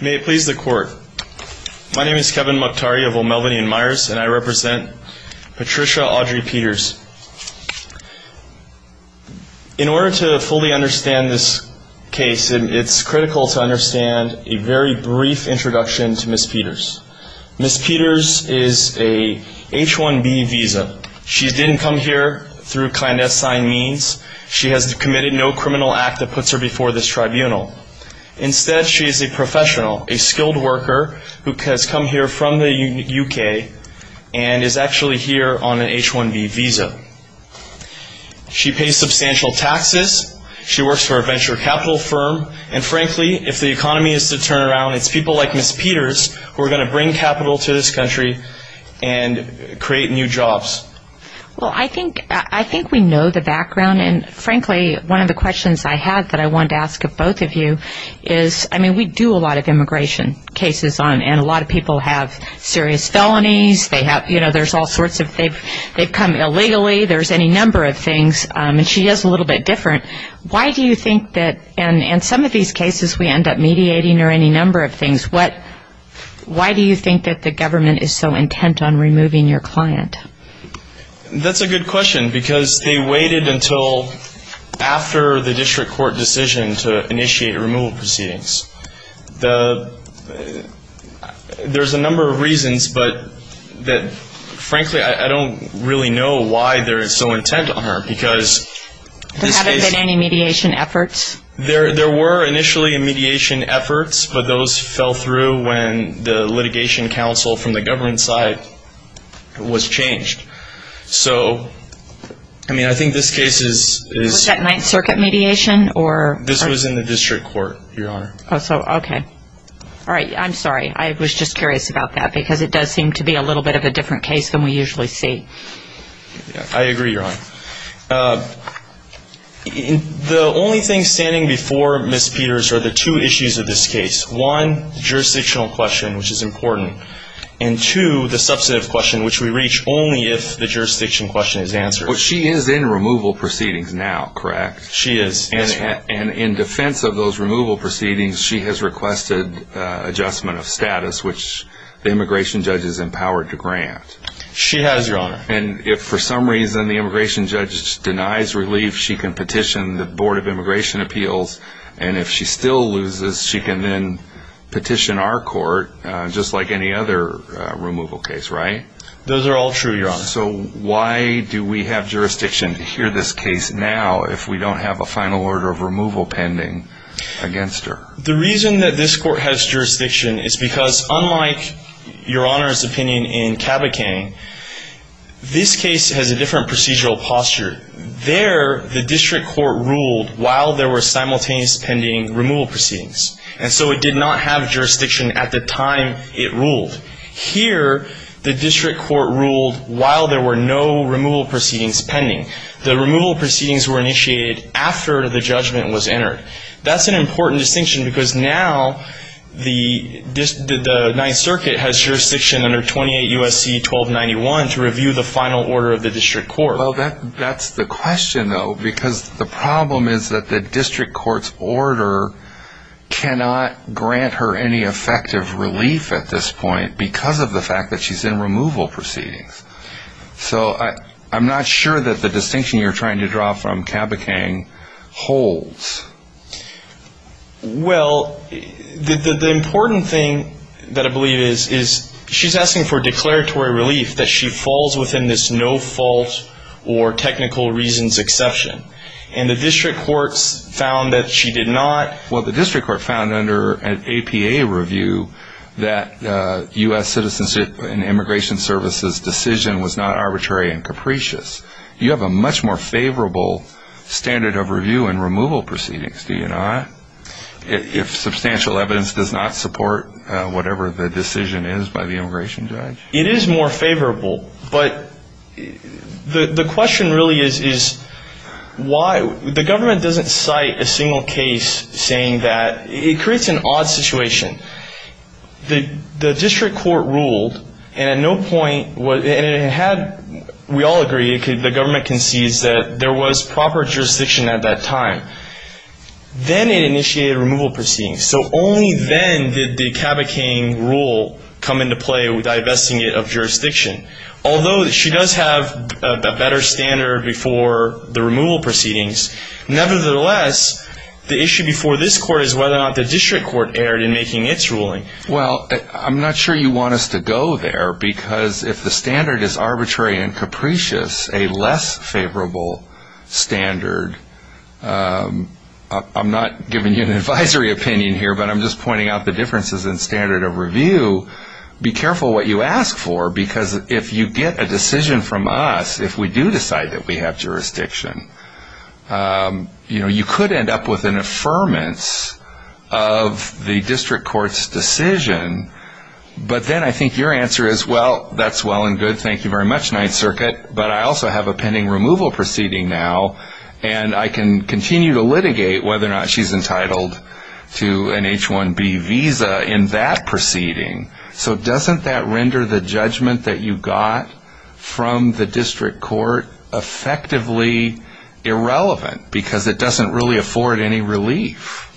May it please the court. My name is Kevin Mukhtari of O'Melveny & Myers and I represent Patricia Audrey Peters. In order to fully understand this case, it's critical to understand a very brief introduction to Ms. Peters. Ms. Peters is a H-1B visa. She didn't come here through kind-assigned means. She has committed no criminal act that puts her before this tribunal. Instead, she is a professional, a skilled worker who has come here from the U.K. and is actually here on an H-1B visa. She pays substantial taxes. She works for a venture capital firm. And frankly, if the economy is to turn around, it's people like Ms. Peters who are going to bring capital to this country and create new jobs. Well, I think we know the background. And frankly, one of the questions I had that I wanted to ask of both of you is, I mean, we do a lot of immigration cases and a lot of people have serious felonies. They have, you know, there's all sorts of, they've come illegally. There's any number of things. And she is a little bit different. Why do you think that in some of these cases we end up mediating or any number of things, why do you think that the government is so intent on removing your client? That's a good question, because they waited until after the district court decision to initiate removal proceedings. There's a number of reasons, but frankly, I don't really know why they're so intent on her. There haven't been any mediation efforts? There were initially mediation efforts, but those fell through when the litigation council from the government side was changed. So, I mean, I think this case is. Was that Ninth Circuit mediation or? This was in the district court, Your Honor. Oh, so, okay. All right. I'm sorry. I was just curious about that, because it does seem to be a little bit of a different case than we usually see. I agree, Your Honor. The only thing standing before Ms. Peters are the two issues of this case. One, jurisdictional question, which is important. And two, the substantive question, which we reach only if the jurisdiction question is answered. But she is in removal proceedings now, correct? She is. And in defense of those removal proceedings, she has requested adjustment of status, which the immigration judge has empowered to grant. She has, Your Honor. And if for some reason the immigration judge denies relief, she can petition the Board of Immigration Appeals. And if she still loses, she can then petition our court, just like any other removal case, right? Those are all true, Your Honor. So, why do we have jurisdiction to hear this case now if we don't have a final order of removal pending against her? The reason that this court has jurisdiction is because, unlike Your Honor's opinion in Cabachan, this case has a different procedural posture. There, the district court ruled while there were simultaneous pending removal proceedings. And so it did not have jurisdiction at the time it ruled. Here, the district court ruled while there were no removal proceedings pending. The removal proceedings were initiated after the judgment was entered. That's an important distinction because now the Ninth Circuit has jurisdiction under 28 U.S.C. 1291 to review the final order of the district court. Well, that's the question, though, because the problem is that the district court's order cannot grant her any effective relief at this point because of the fact that she's in removal proceedings. So, I'm not sure that the distinction you're trying to draw from Cabachan holds. Well, the important thing that I believe is she's asking for declaratory relief that she falls within this no fault or technical reasons exception. And the district courts found that she did not. Well, the district court found under an APA review that U.S. Citizenship and Immigration Services' decision was not arbitrary and capricious. You have a much more favorable standard of review in removal proceedings, do you not, if substantial evidence does not support whatever the decision is by the immigration judge? It is more favorable, but the question really is why? The government doesn't cite a single case saying that. It creates an odd situation. The district court ruled, and at no point, and it had, we all agree, the government concedes that there was proper jurisdiction at that time. Then it initiated removal proceedings. So only then did the Cabachan rule come into play with divesting it of jurisdiction. Although she does have a better standard before the removal proceedings, nevertheless, the issue before this court is whether or not the district court erred in making its ruling. Well, I'm not sure you want us to go there, because if the standard is arbitrary and capricious, a less favorable standard, I'm not giving you an advisory opinion here, but I'm just pointing out the differences in standard of review. Be careful what you ask for, because if you get a decision from us, if we do decide that we have jurisdiction, you could end up with an affirmance of the district court's decision. But then I think your answer is, well, that's well and good, thank you very much, 9th Circuit, but I also have a pending removal proceeding now, and I can continue to litigate whether or not she's entitled to an H-1B visa in that proceeding. So doesn't that render the judgment that you got from the district court effectively irrelevant, because it doesn't really afford any relief?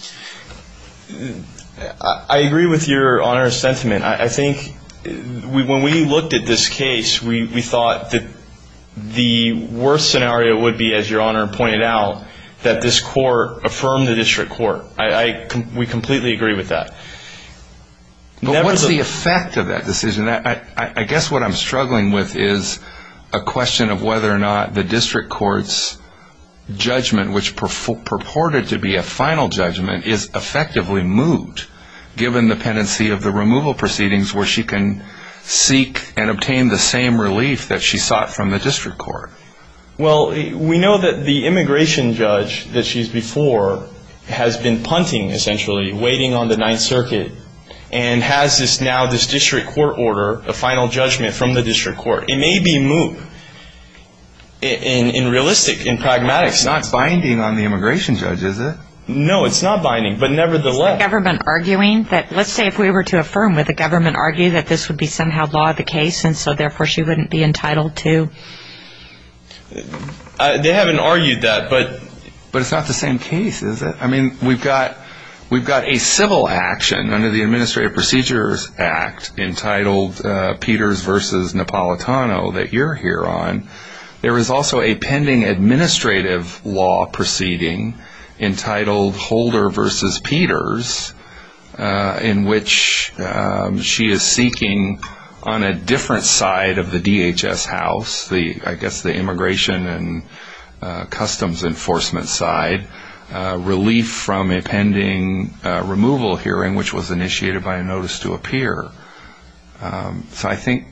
I agree with Your Honor's sentiment. I think when we looked at this case, we thought that the worst scenario would be, as Your Honor pointed out, that this court affirm the district court. We completely agree with that. But what's the effect of that decision? I guess what I'm struggling with is a question of whether or not the district court's judgment, which purported to be a final judgment, is effectively moved, given the pendency of the removal proceedings where she can seek and obtain the same relief that she sought from the district court. Well, we know that the immigration judge that she's before has been punting, essentially, waiting on the 9th Circuit, and has now this district court order, a final judgment from the district court. It may be moved in realistic, in pragmatics. It's not binding on the immigration judge, is it? No, it's not binding, but nevertheless. Is the government arguing? Let's say if we were to affirm, would the government argue that this would be somehow law of the case and so therefore she wouldn't be entitled to? They haven't argued that, but it's not the same case, is it? I mean, we've got a civil action under the Administrative Procedures Act entitled Peters v. Napolitano that you're here on. There is also a pending administrative law proceeding entitled Holder v. Peters, in which she is seeking on a different side of the DHS house, I guess the immigration and customs enforcement side, relief from a pending removal hearing, which was initiated by a notice to appear. So I think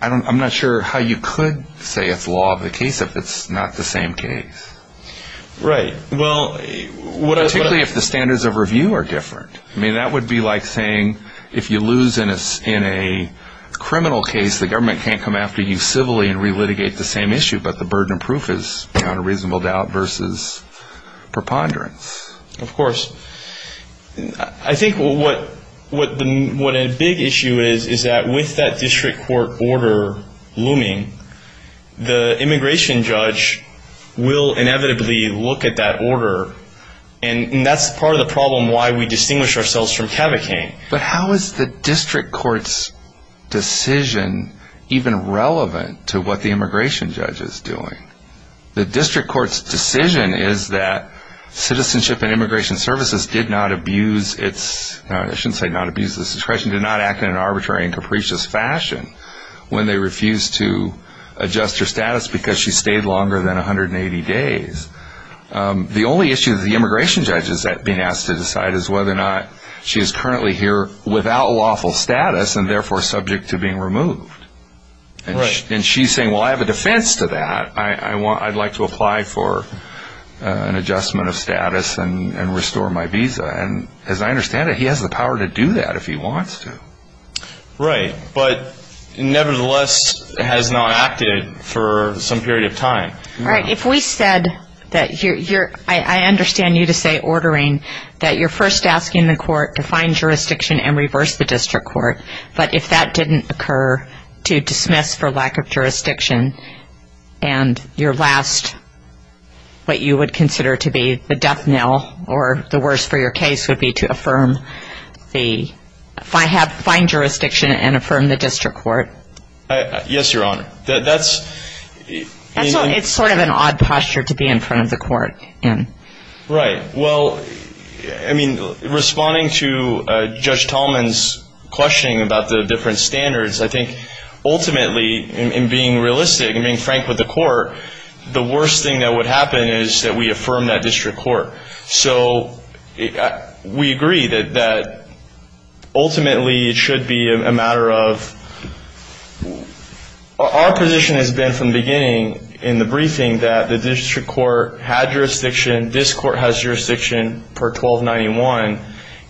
I'm not sure how you could say it's law of the case if it's not the same case. Right. Well, particularly if the standards of review are different. I mean, that would be like saying if you lose in a criminal case, the government can't come after you civilly and re-litigate the same issue, but the burden of proof is, beyond a reasonable doubt, versus preponderance. Of course. I think what a big issue is is that with that district court order looming, the immigration judge will inevitably look at that order, and that's part of the problem why we distinguish ourselves from cavalcade. But how is the district court's decision even relevant to what the immigration judge is doing? The district court's decision is that Citizenship and Immigration Services did not abuse its, I shouldn't say not abuse its discretion, did not act in an arbitrary and capricious fashion when they refused to adjust her status because she stayed longer than 180 days. The only issue that the immigration judge is being asked to decide is whether or not she is currently here without lawful status and therefore subject to being removed. Right. And she's saying, well, I have a defense to that. I'd like to apply for an adjustment of status and restore my visa. And as I understand it, he has the power to do that if he wants to. Right, but nevertheless has not acted for some period of time. Right. If we said that you're, I understand you to say ordering, that you're first asking the court to find jurisdiction and reverse the district court, but if that didn't occur to dismiss for lack of jurisdiction, and your last, what you would consider to be the death knell, or the worst for your case would be to affirm the, find jurisdiction and affirm the district court. Yes, Your Honor. That's. It's sort of an odd posture to be in front of the court. Right. Well, I mean, responding to Judge Tallman's questioning about the different standards, I think ultimately in being realistic and being frank with the court, the worst thing that would happen is that we affirm that district court. So we agree that ultimately it should be a matter of, our position has been from the beginning in the briefing that the district court had jurisdiction, this court has jurisdiction per 1291,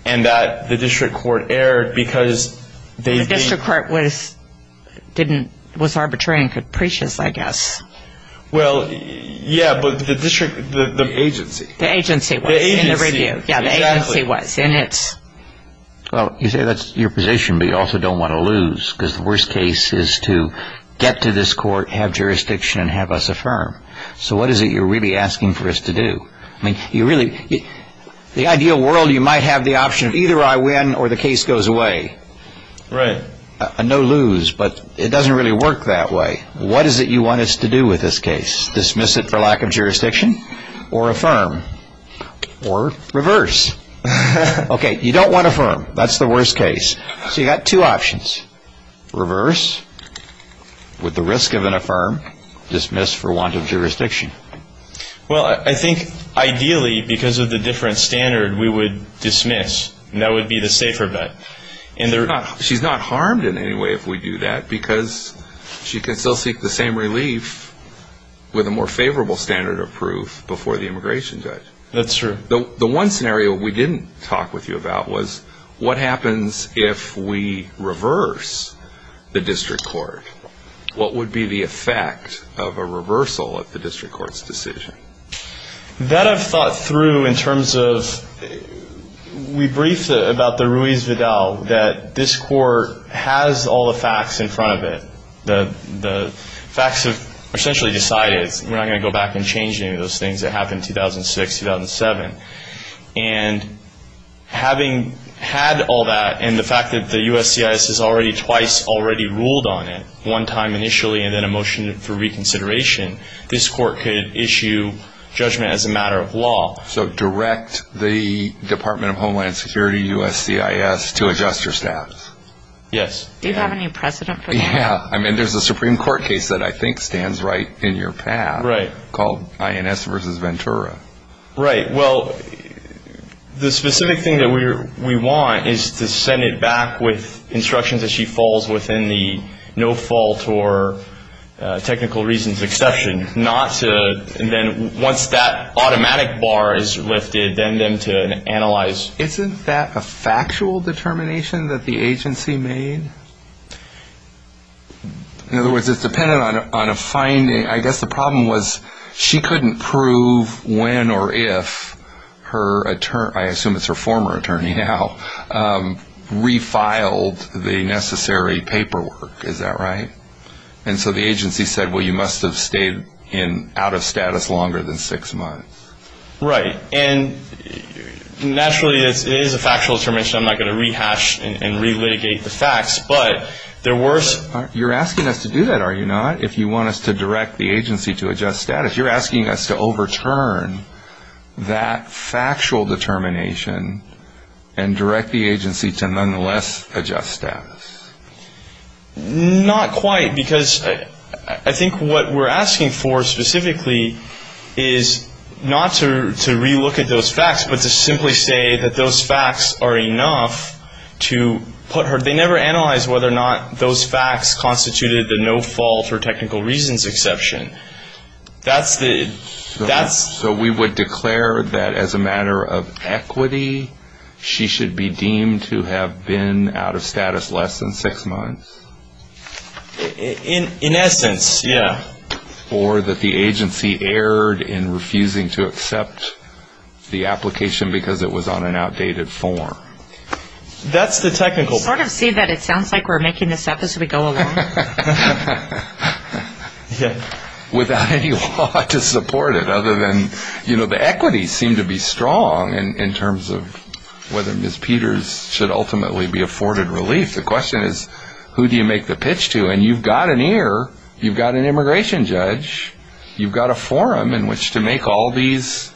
and that the district court erred because they. The district court was, didn't, was arbitrary and capricious, I guess. Well, yeah, but the district, the agency. The agency was in the review. The agency, exactly. Yeah, the agency was in it. Well, you say that's your position, but you also don't want to lose, because the worst case is to get to this court, have jurisdiction, and have us affirm. So what is it you're really asking for us to do? I mean, you really, the ideal world you might have the option of either I win or the case goes away. Right. A no lose, but it doesn't really work that way. What is it you want us to do with this case? Dismiss it for lack of jurisdiction or affirm or reverse? Okay, you don't want affirm. That's the worst case. So you've got two options. Reverse with the risk of an affirm, dismiss for want of jurisdiction. Well, I think ideally because of the different standard we would dismiss, and that would be the safer bet. She's not harmed in any way if we do that, because she can still seek the same relief with a more favorable standard of proof before the immigration judge. That's true. The one scenario we didn't talk with you about was what happens if we reverse the district court? What would be the effect of a reversal of the district court's decision? That I've thought through in terms of we briefed about the Ruiz-Vidal, that this court has all the facts in front of it. The facts have essentially decided we're not going to go back and change any of those things that happened in 2006, 2007. And having had all that and the fact that the USCIS has already twice already ruled on it, one time initially and then a motion for reconsideration, this court could issue judgment as a matter of law. So direct the Department of Homeland Security, USCIS, to adjust your staffs? Yes. Do you have any precedent for that? Yeah. I mean, there's a Supreme Court case that I think stands right in your path called INS versus Ventura. Right. Well, the specific thing that we want is to send it back with instructions that she falls within the no fault or technical reasons exception. Right. Not to then once that automatic bar is lifted, then them to analyze. Isn't that a factual determination that the agency made? In other words, it's dependent on a finding. I guess the problem was she couldn't prove when or if her attorney, I assume it's her former attorney now, refiled the necessary paperwork. Is that right? And so the agency said, well, you must have stayed out of status longer than six months. Right. And naturally, it is a factual determination. I'm not going to rehash and relitigate the facts. But there were some. You're asking us to do that, are you not, if you want us to direct the agency to adjust status? You're asking us to overturn that factual determination and direct the agency to nonetheless adjust status. Not quite, because I think what we're asking for specifically is not to relook at those facts, but to simply say that those facts are enough to put her, they never analyzed whether or not those facts constituted the no fault or technical reasons exception. That's the, that's. So we would declare that as a matter of equity, she should be deemed to have been out of status less than six months? In essence, yeah. Or that the agency erred in refusing to accept the application because it was on an outdated form? That's the technical part. Sort of see that it sounds like we're making this up as we go along. Yeah. Without any law to support it other than, you know, the equities seem to be strong in terms of whether Ms. Peters should ultimately be afforded relief. The question is, who do you make the pitch to? And you've got an ear, you've got an immigration judge, you've got a forum in which to make all these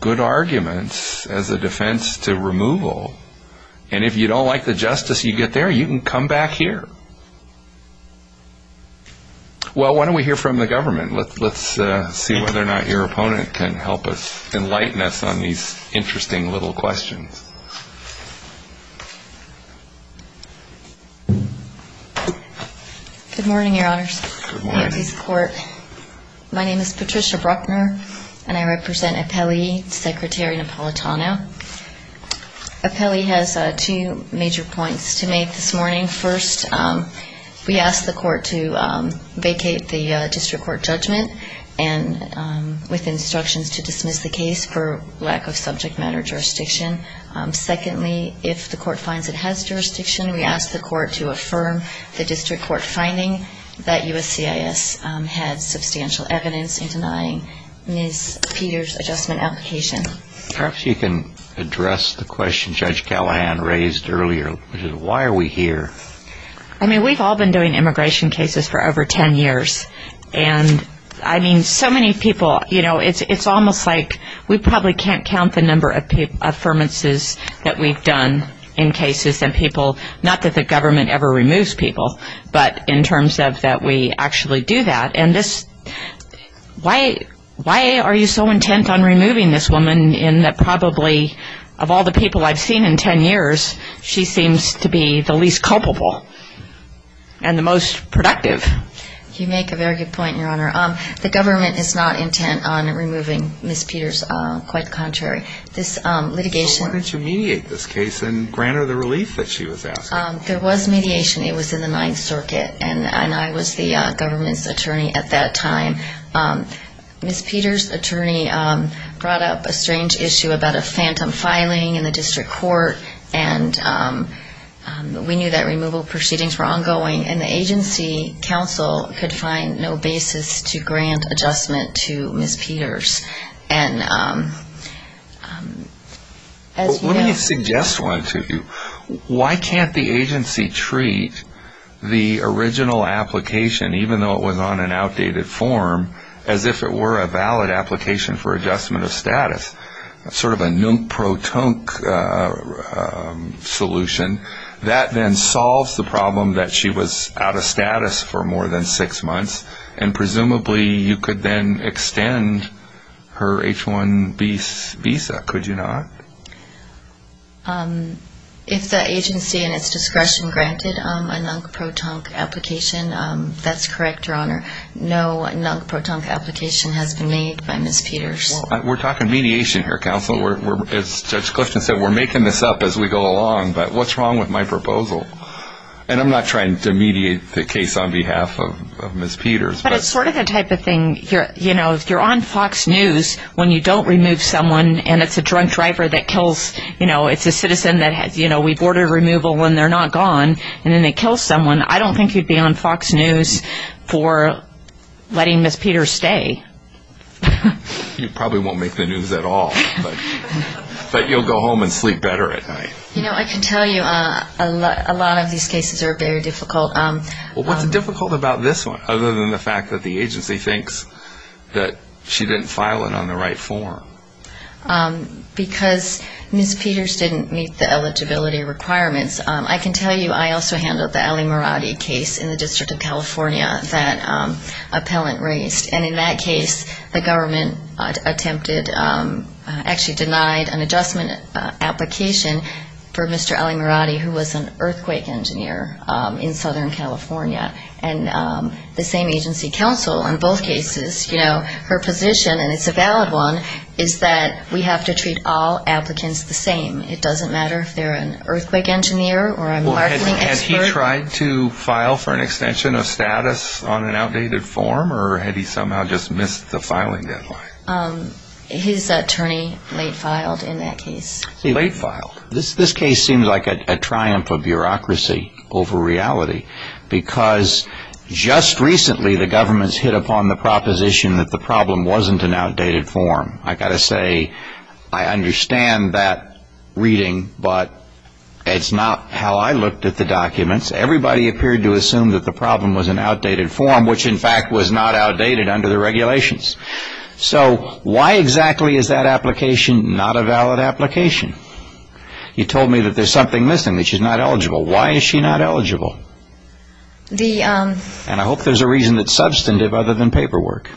good arguments as a defense to removal. And if you don't like the justice you get there, you can come back here. Well, why don't we hear from the government? Let's see whether or not your opponent can help us, enlighten us on these interesting little questions. Good morning, Your Honors. Good morning. My name is Patricia Bruckner, and I represent Appellee Secretary Napolitano. Appellee has two major points to make this morning. First, we ask the court to vacate the district court judgment with instructions to dismiss the case for lack of subject matter jurisdiction. Secondly, if the court finds it has jurisdiction, we ask the court to affirm the district court finding that USCIS had substantial evidence in denying Ms. Peters' adjustment application. Perhaps you can address the question Judge Callahan raised earlier, which is, why are we here? I mean, we've all been doing immigration cases for over ten years. And I mean, so many people, you know, it's almost like we probably can't count the number of affirmances that we've done in cases, and people, not that the government ever removes people, but in terms of that we actually do that. And this, why are you so intent on removing this woman in that probably of all the people I've seen in ten years, she seems to be the least culpable and the most productive? You make a very good point, Your Honor. The government is not intent on removing Ms. Peters, quite the contrary. This litigation So why didn't you mediate this case and grant her the relief that she was asking? There was mediation. It was in the Ninth Circuit, and I was the government's attorney at that time. Ms. Peters' attorney brought up a strange issue about a phantom filing in the district court, and we knew that removal proceedings were ongoing, and the agency counsel could find no basis to grant adjustment to Ms. Peters. Let me suggest one to you. Why can't the agency treat the original application, even though it was on an outdated form, as if it were a valid application for adjustment of status? Sort of a nunk-pro-tunk solution. That then solves the problem that she was out of status for more than six months, and presumably you could then extend her H-1B visa, could you not? If the agency in its discretion granted a nunk-pro-tunk application, that's correct, Your Honor. No nunk-pro-tunk application has been made by Ms. Peters. We're talking mediation here, counsel. As Judge Clifton said, we're making this up as we go along, but what's wrong with my proposal? And I'm not trying to mediate the case on behalf of Ms. Peters. But it's sort of the type of thing, you know, if you're on Fox News when you don't remove someone and it's a drunk driver that kills, you know, it's a citizen that, you know, we boarded removal when they're not gone, and then they kill someone, I don't think you'd be on Fox News for letting Ms. Peters stay. You probably won't make the news at all, but you'll go home and sleep better at night. You know, I can tell you a lot of these cases are very difficult. Well, what's difficult about this one other than the fact that the agency thinks that she didn't file it on the right form? Because Ms. Peters didn't meet the eligibility requirements. I can tell you I also handled the Ali Muradi case in the District of California that an appellant raised. And in that case, the government attempted, actually denied an adjustment application for Mr. Ali Muradi, who was an earthquake engineer in Southern California. And the same agency counsel in both cases, you know, her position, and it's a valid one, is that we have to treat all applicants the same. It doesn't matter if they're an earthquake engineer or a marketing expert. Had he tried to file for an extension of status on an outdated form, or had he somehow just missed the filing deadline? His attorney late filed in that case. Late filed. This case seems like a triumph of bureaucracy over reality, because just recently the government's hit upon the proposition that the problem wasn't an outdated form. I've got to say, I understand that reading, but it's not how I looked at the documents. Everybody appeared to assume that the problem was an outdated form, which in fact was not outdated under the regulations. So why exactly is that application not a valid application? You told me that there's something missing, that she's not eligible. Why is she not eligible? And I hope there's a reason that's substantive other than paperwork.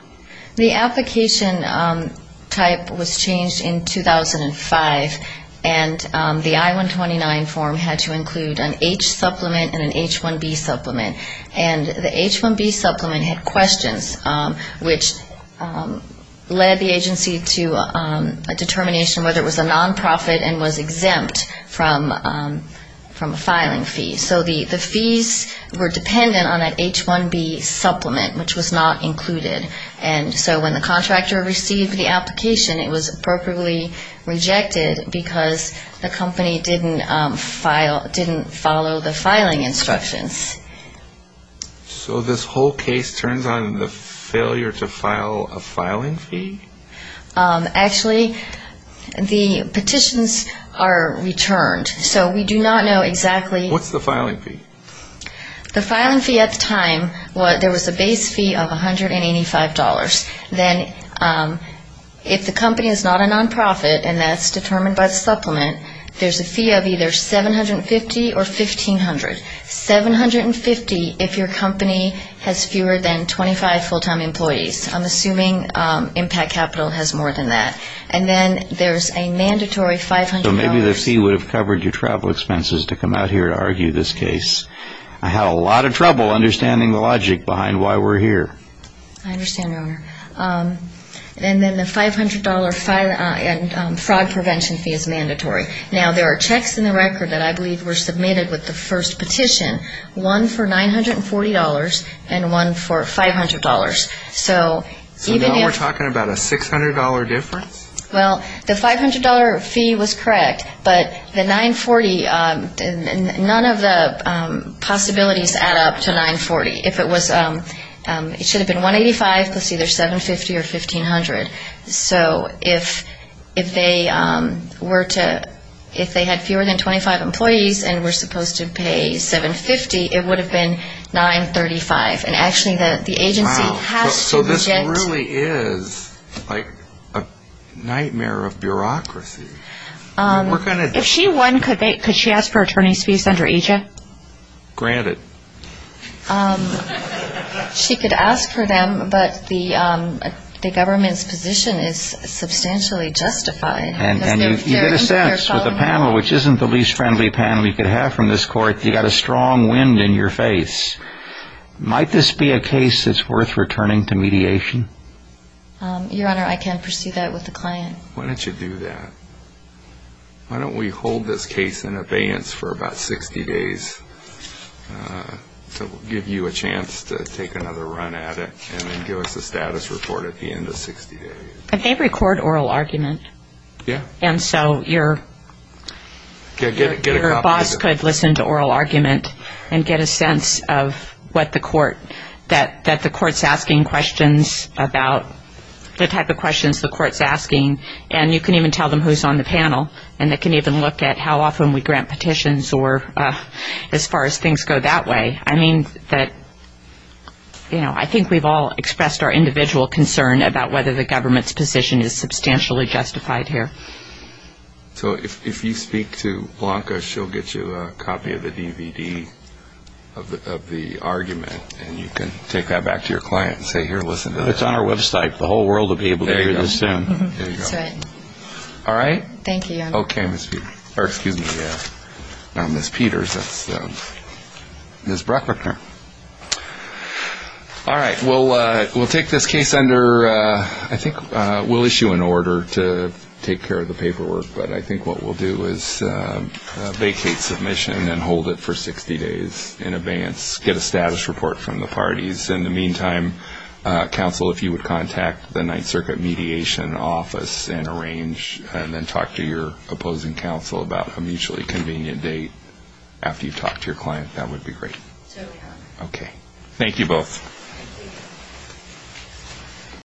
The application type was changed in 2005, and the I-129 form had to include an H supplement and an H-1B supplement. And the H-1B supplement had questions, which led the agency to a determination whether it was a nonprofit and was exempt from a filing fee. So the fees were dependent on an H-1B supplement, which was not included. And so when the contractor received the application, it was appropriately rejected because the company didn't follow the filing instructions. So this whole case turns on the failure to file a filing fee? Actually, the petitions are returned. So we do not know exactly. What's the filing fee? The filing fee at the time, there was a base fee of $185. Then if the company is not a nonprofit and that's determined by the supplement, there's a fee of either $750 or $1,500. $750 if your company has fewer than 25 full-time employees. I'm assuming Impact Capital has more than that. And then there's a mandatory $500. Maybe the fee would have covered your travel expenses to come out here to argue this case. I had a lot of trouble understanding the logic behind why we're here. I understand, Your Honor. And then the $500 fraud prevention fee is mandatory. Now, there are checks in the record that I believe were submitted with the first petition, one for $940 and one for $500. So now we're talking about a $600 difference? Well, the $500 fee was correct, but the $940, none of the possibilities add up to $940. It should have been $185 plus either $750 or $1,500. So if they had fewer than 25 employees and were supposed to pay $750, it would have been $935. Wow. So this really is like a nightmare of bureaucracy. If she won, could she ask for attorney's fees under each? Granted. She could ask for them, but the government's position is substantially justified. And you get a sense with a panel which isn't the least friendly panel you could have from this court, you've got a strong wind in your face. Might this be a case that's worth returning to mediation? Your Honor, I can't pursue that with the client. Why don't you do that? Why don't we hold this case in abeyance for about 60 days to give you a chance to take another run at it and then give us a status report at the end of 60 days? But they record oral argument. Yeah. And so your boss could listen to oral argument and get a sense of what the court, that the court's asking questions about the type of questions the court's asking. And you can even tell them who's on the panel, and they can even look at how often we grant petitions or as far as things go that way. I mean, I think we've all expressed our individual concern about whether the government's position is substantially justified here. So if you speak to Blanca, she'll get you a copy of the DVD of the argument, and you can take that back to your client and say, here, listen to this. It's on our website. The whole world will be able to hear this soon. There you go. That's right. All right? Thank you, Your Honor. Okay, Ms. Peters. Or excuse me, not Ms. Peters, that's Ms. Bruckner. All right. We'll take this case under, I think we'll issue an order to take care of the paperwork, but I think what we'll do is vacate submission and hold it for 60 days in advance, get a status report from the parties. In the meantime, counsel, if you would contact the Ninth Circuit Mediation Office and arrange and then talk to your opposing counsel about a mutually convenient date after you've talked to your client, that would be great. Sure we have. Okay. Thank you both. Thank you.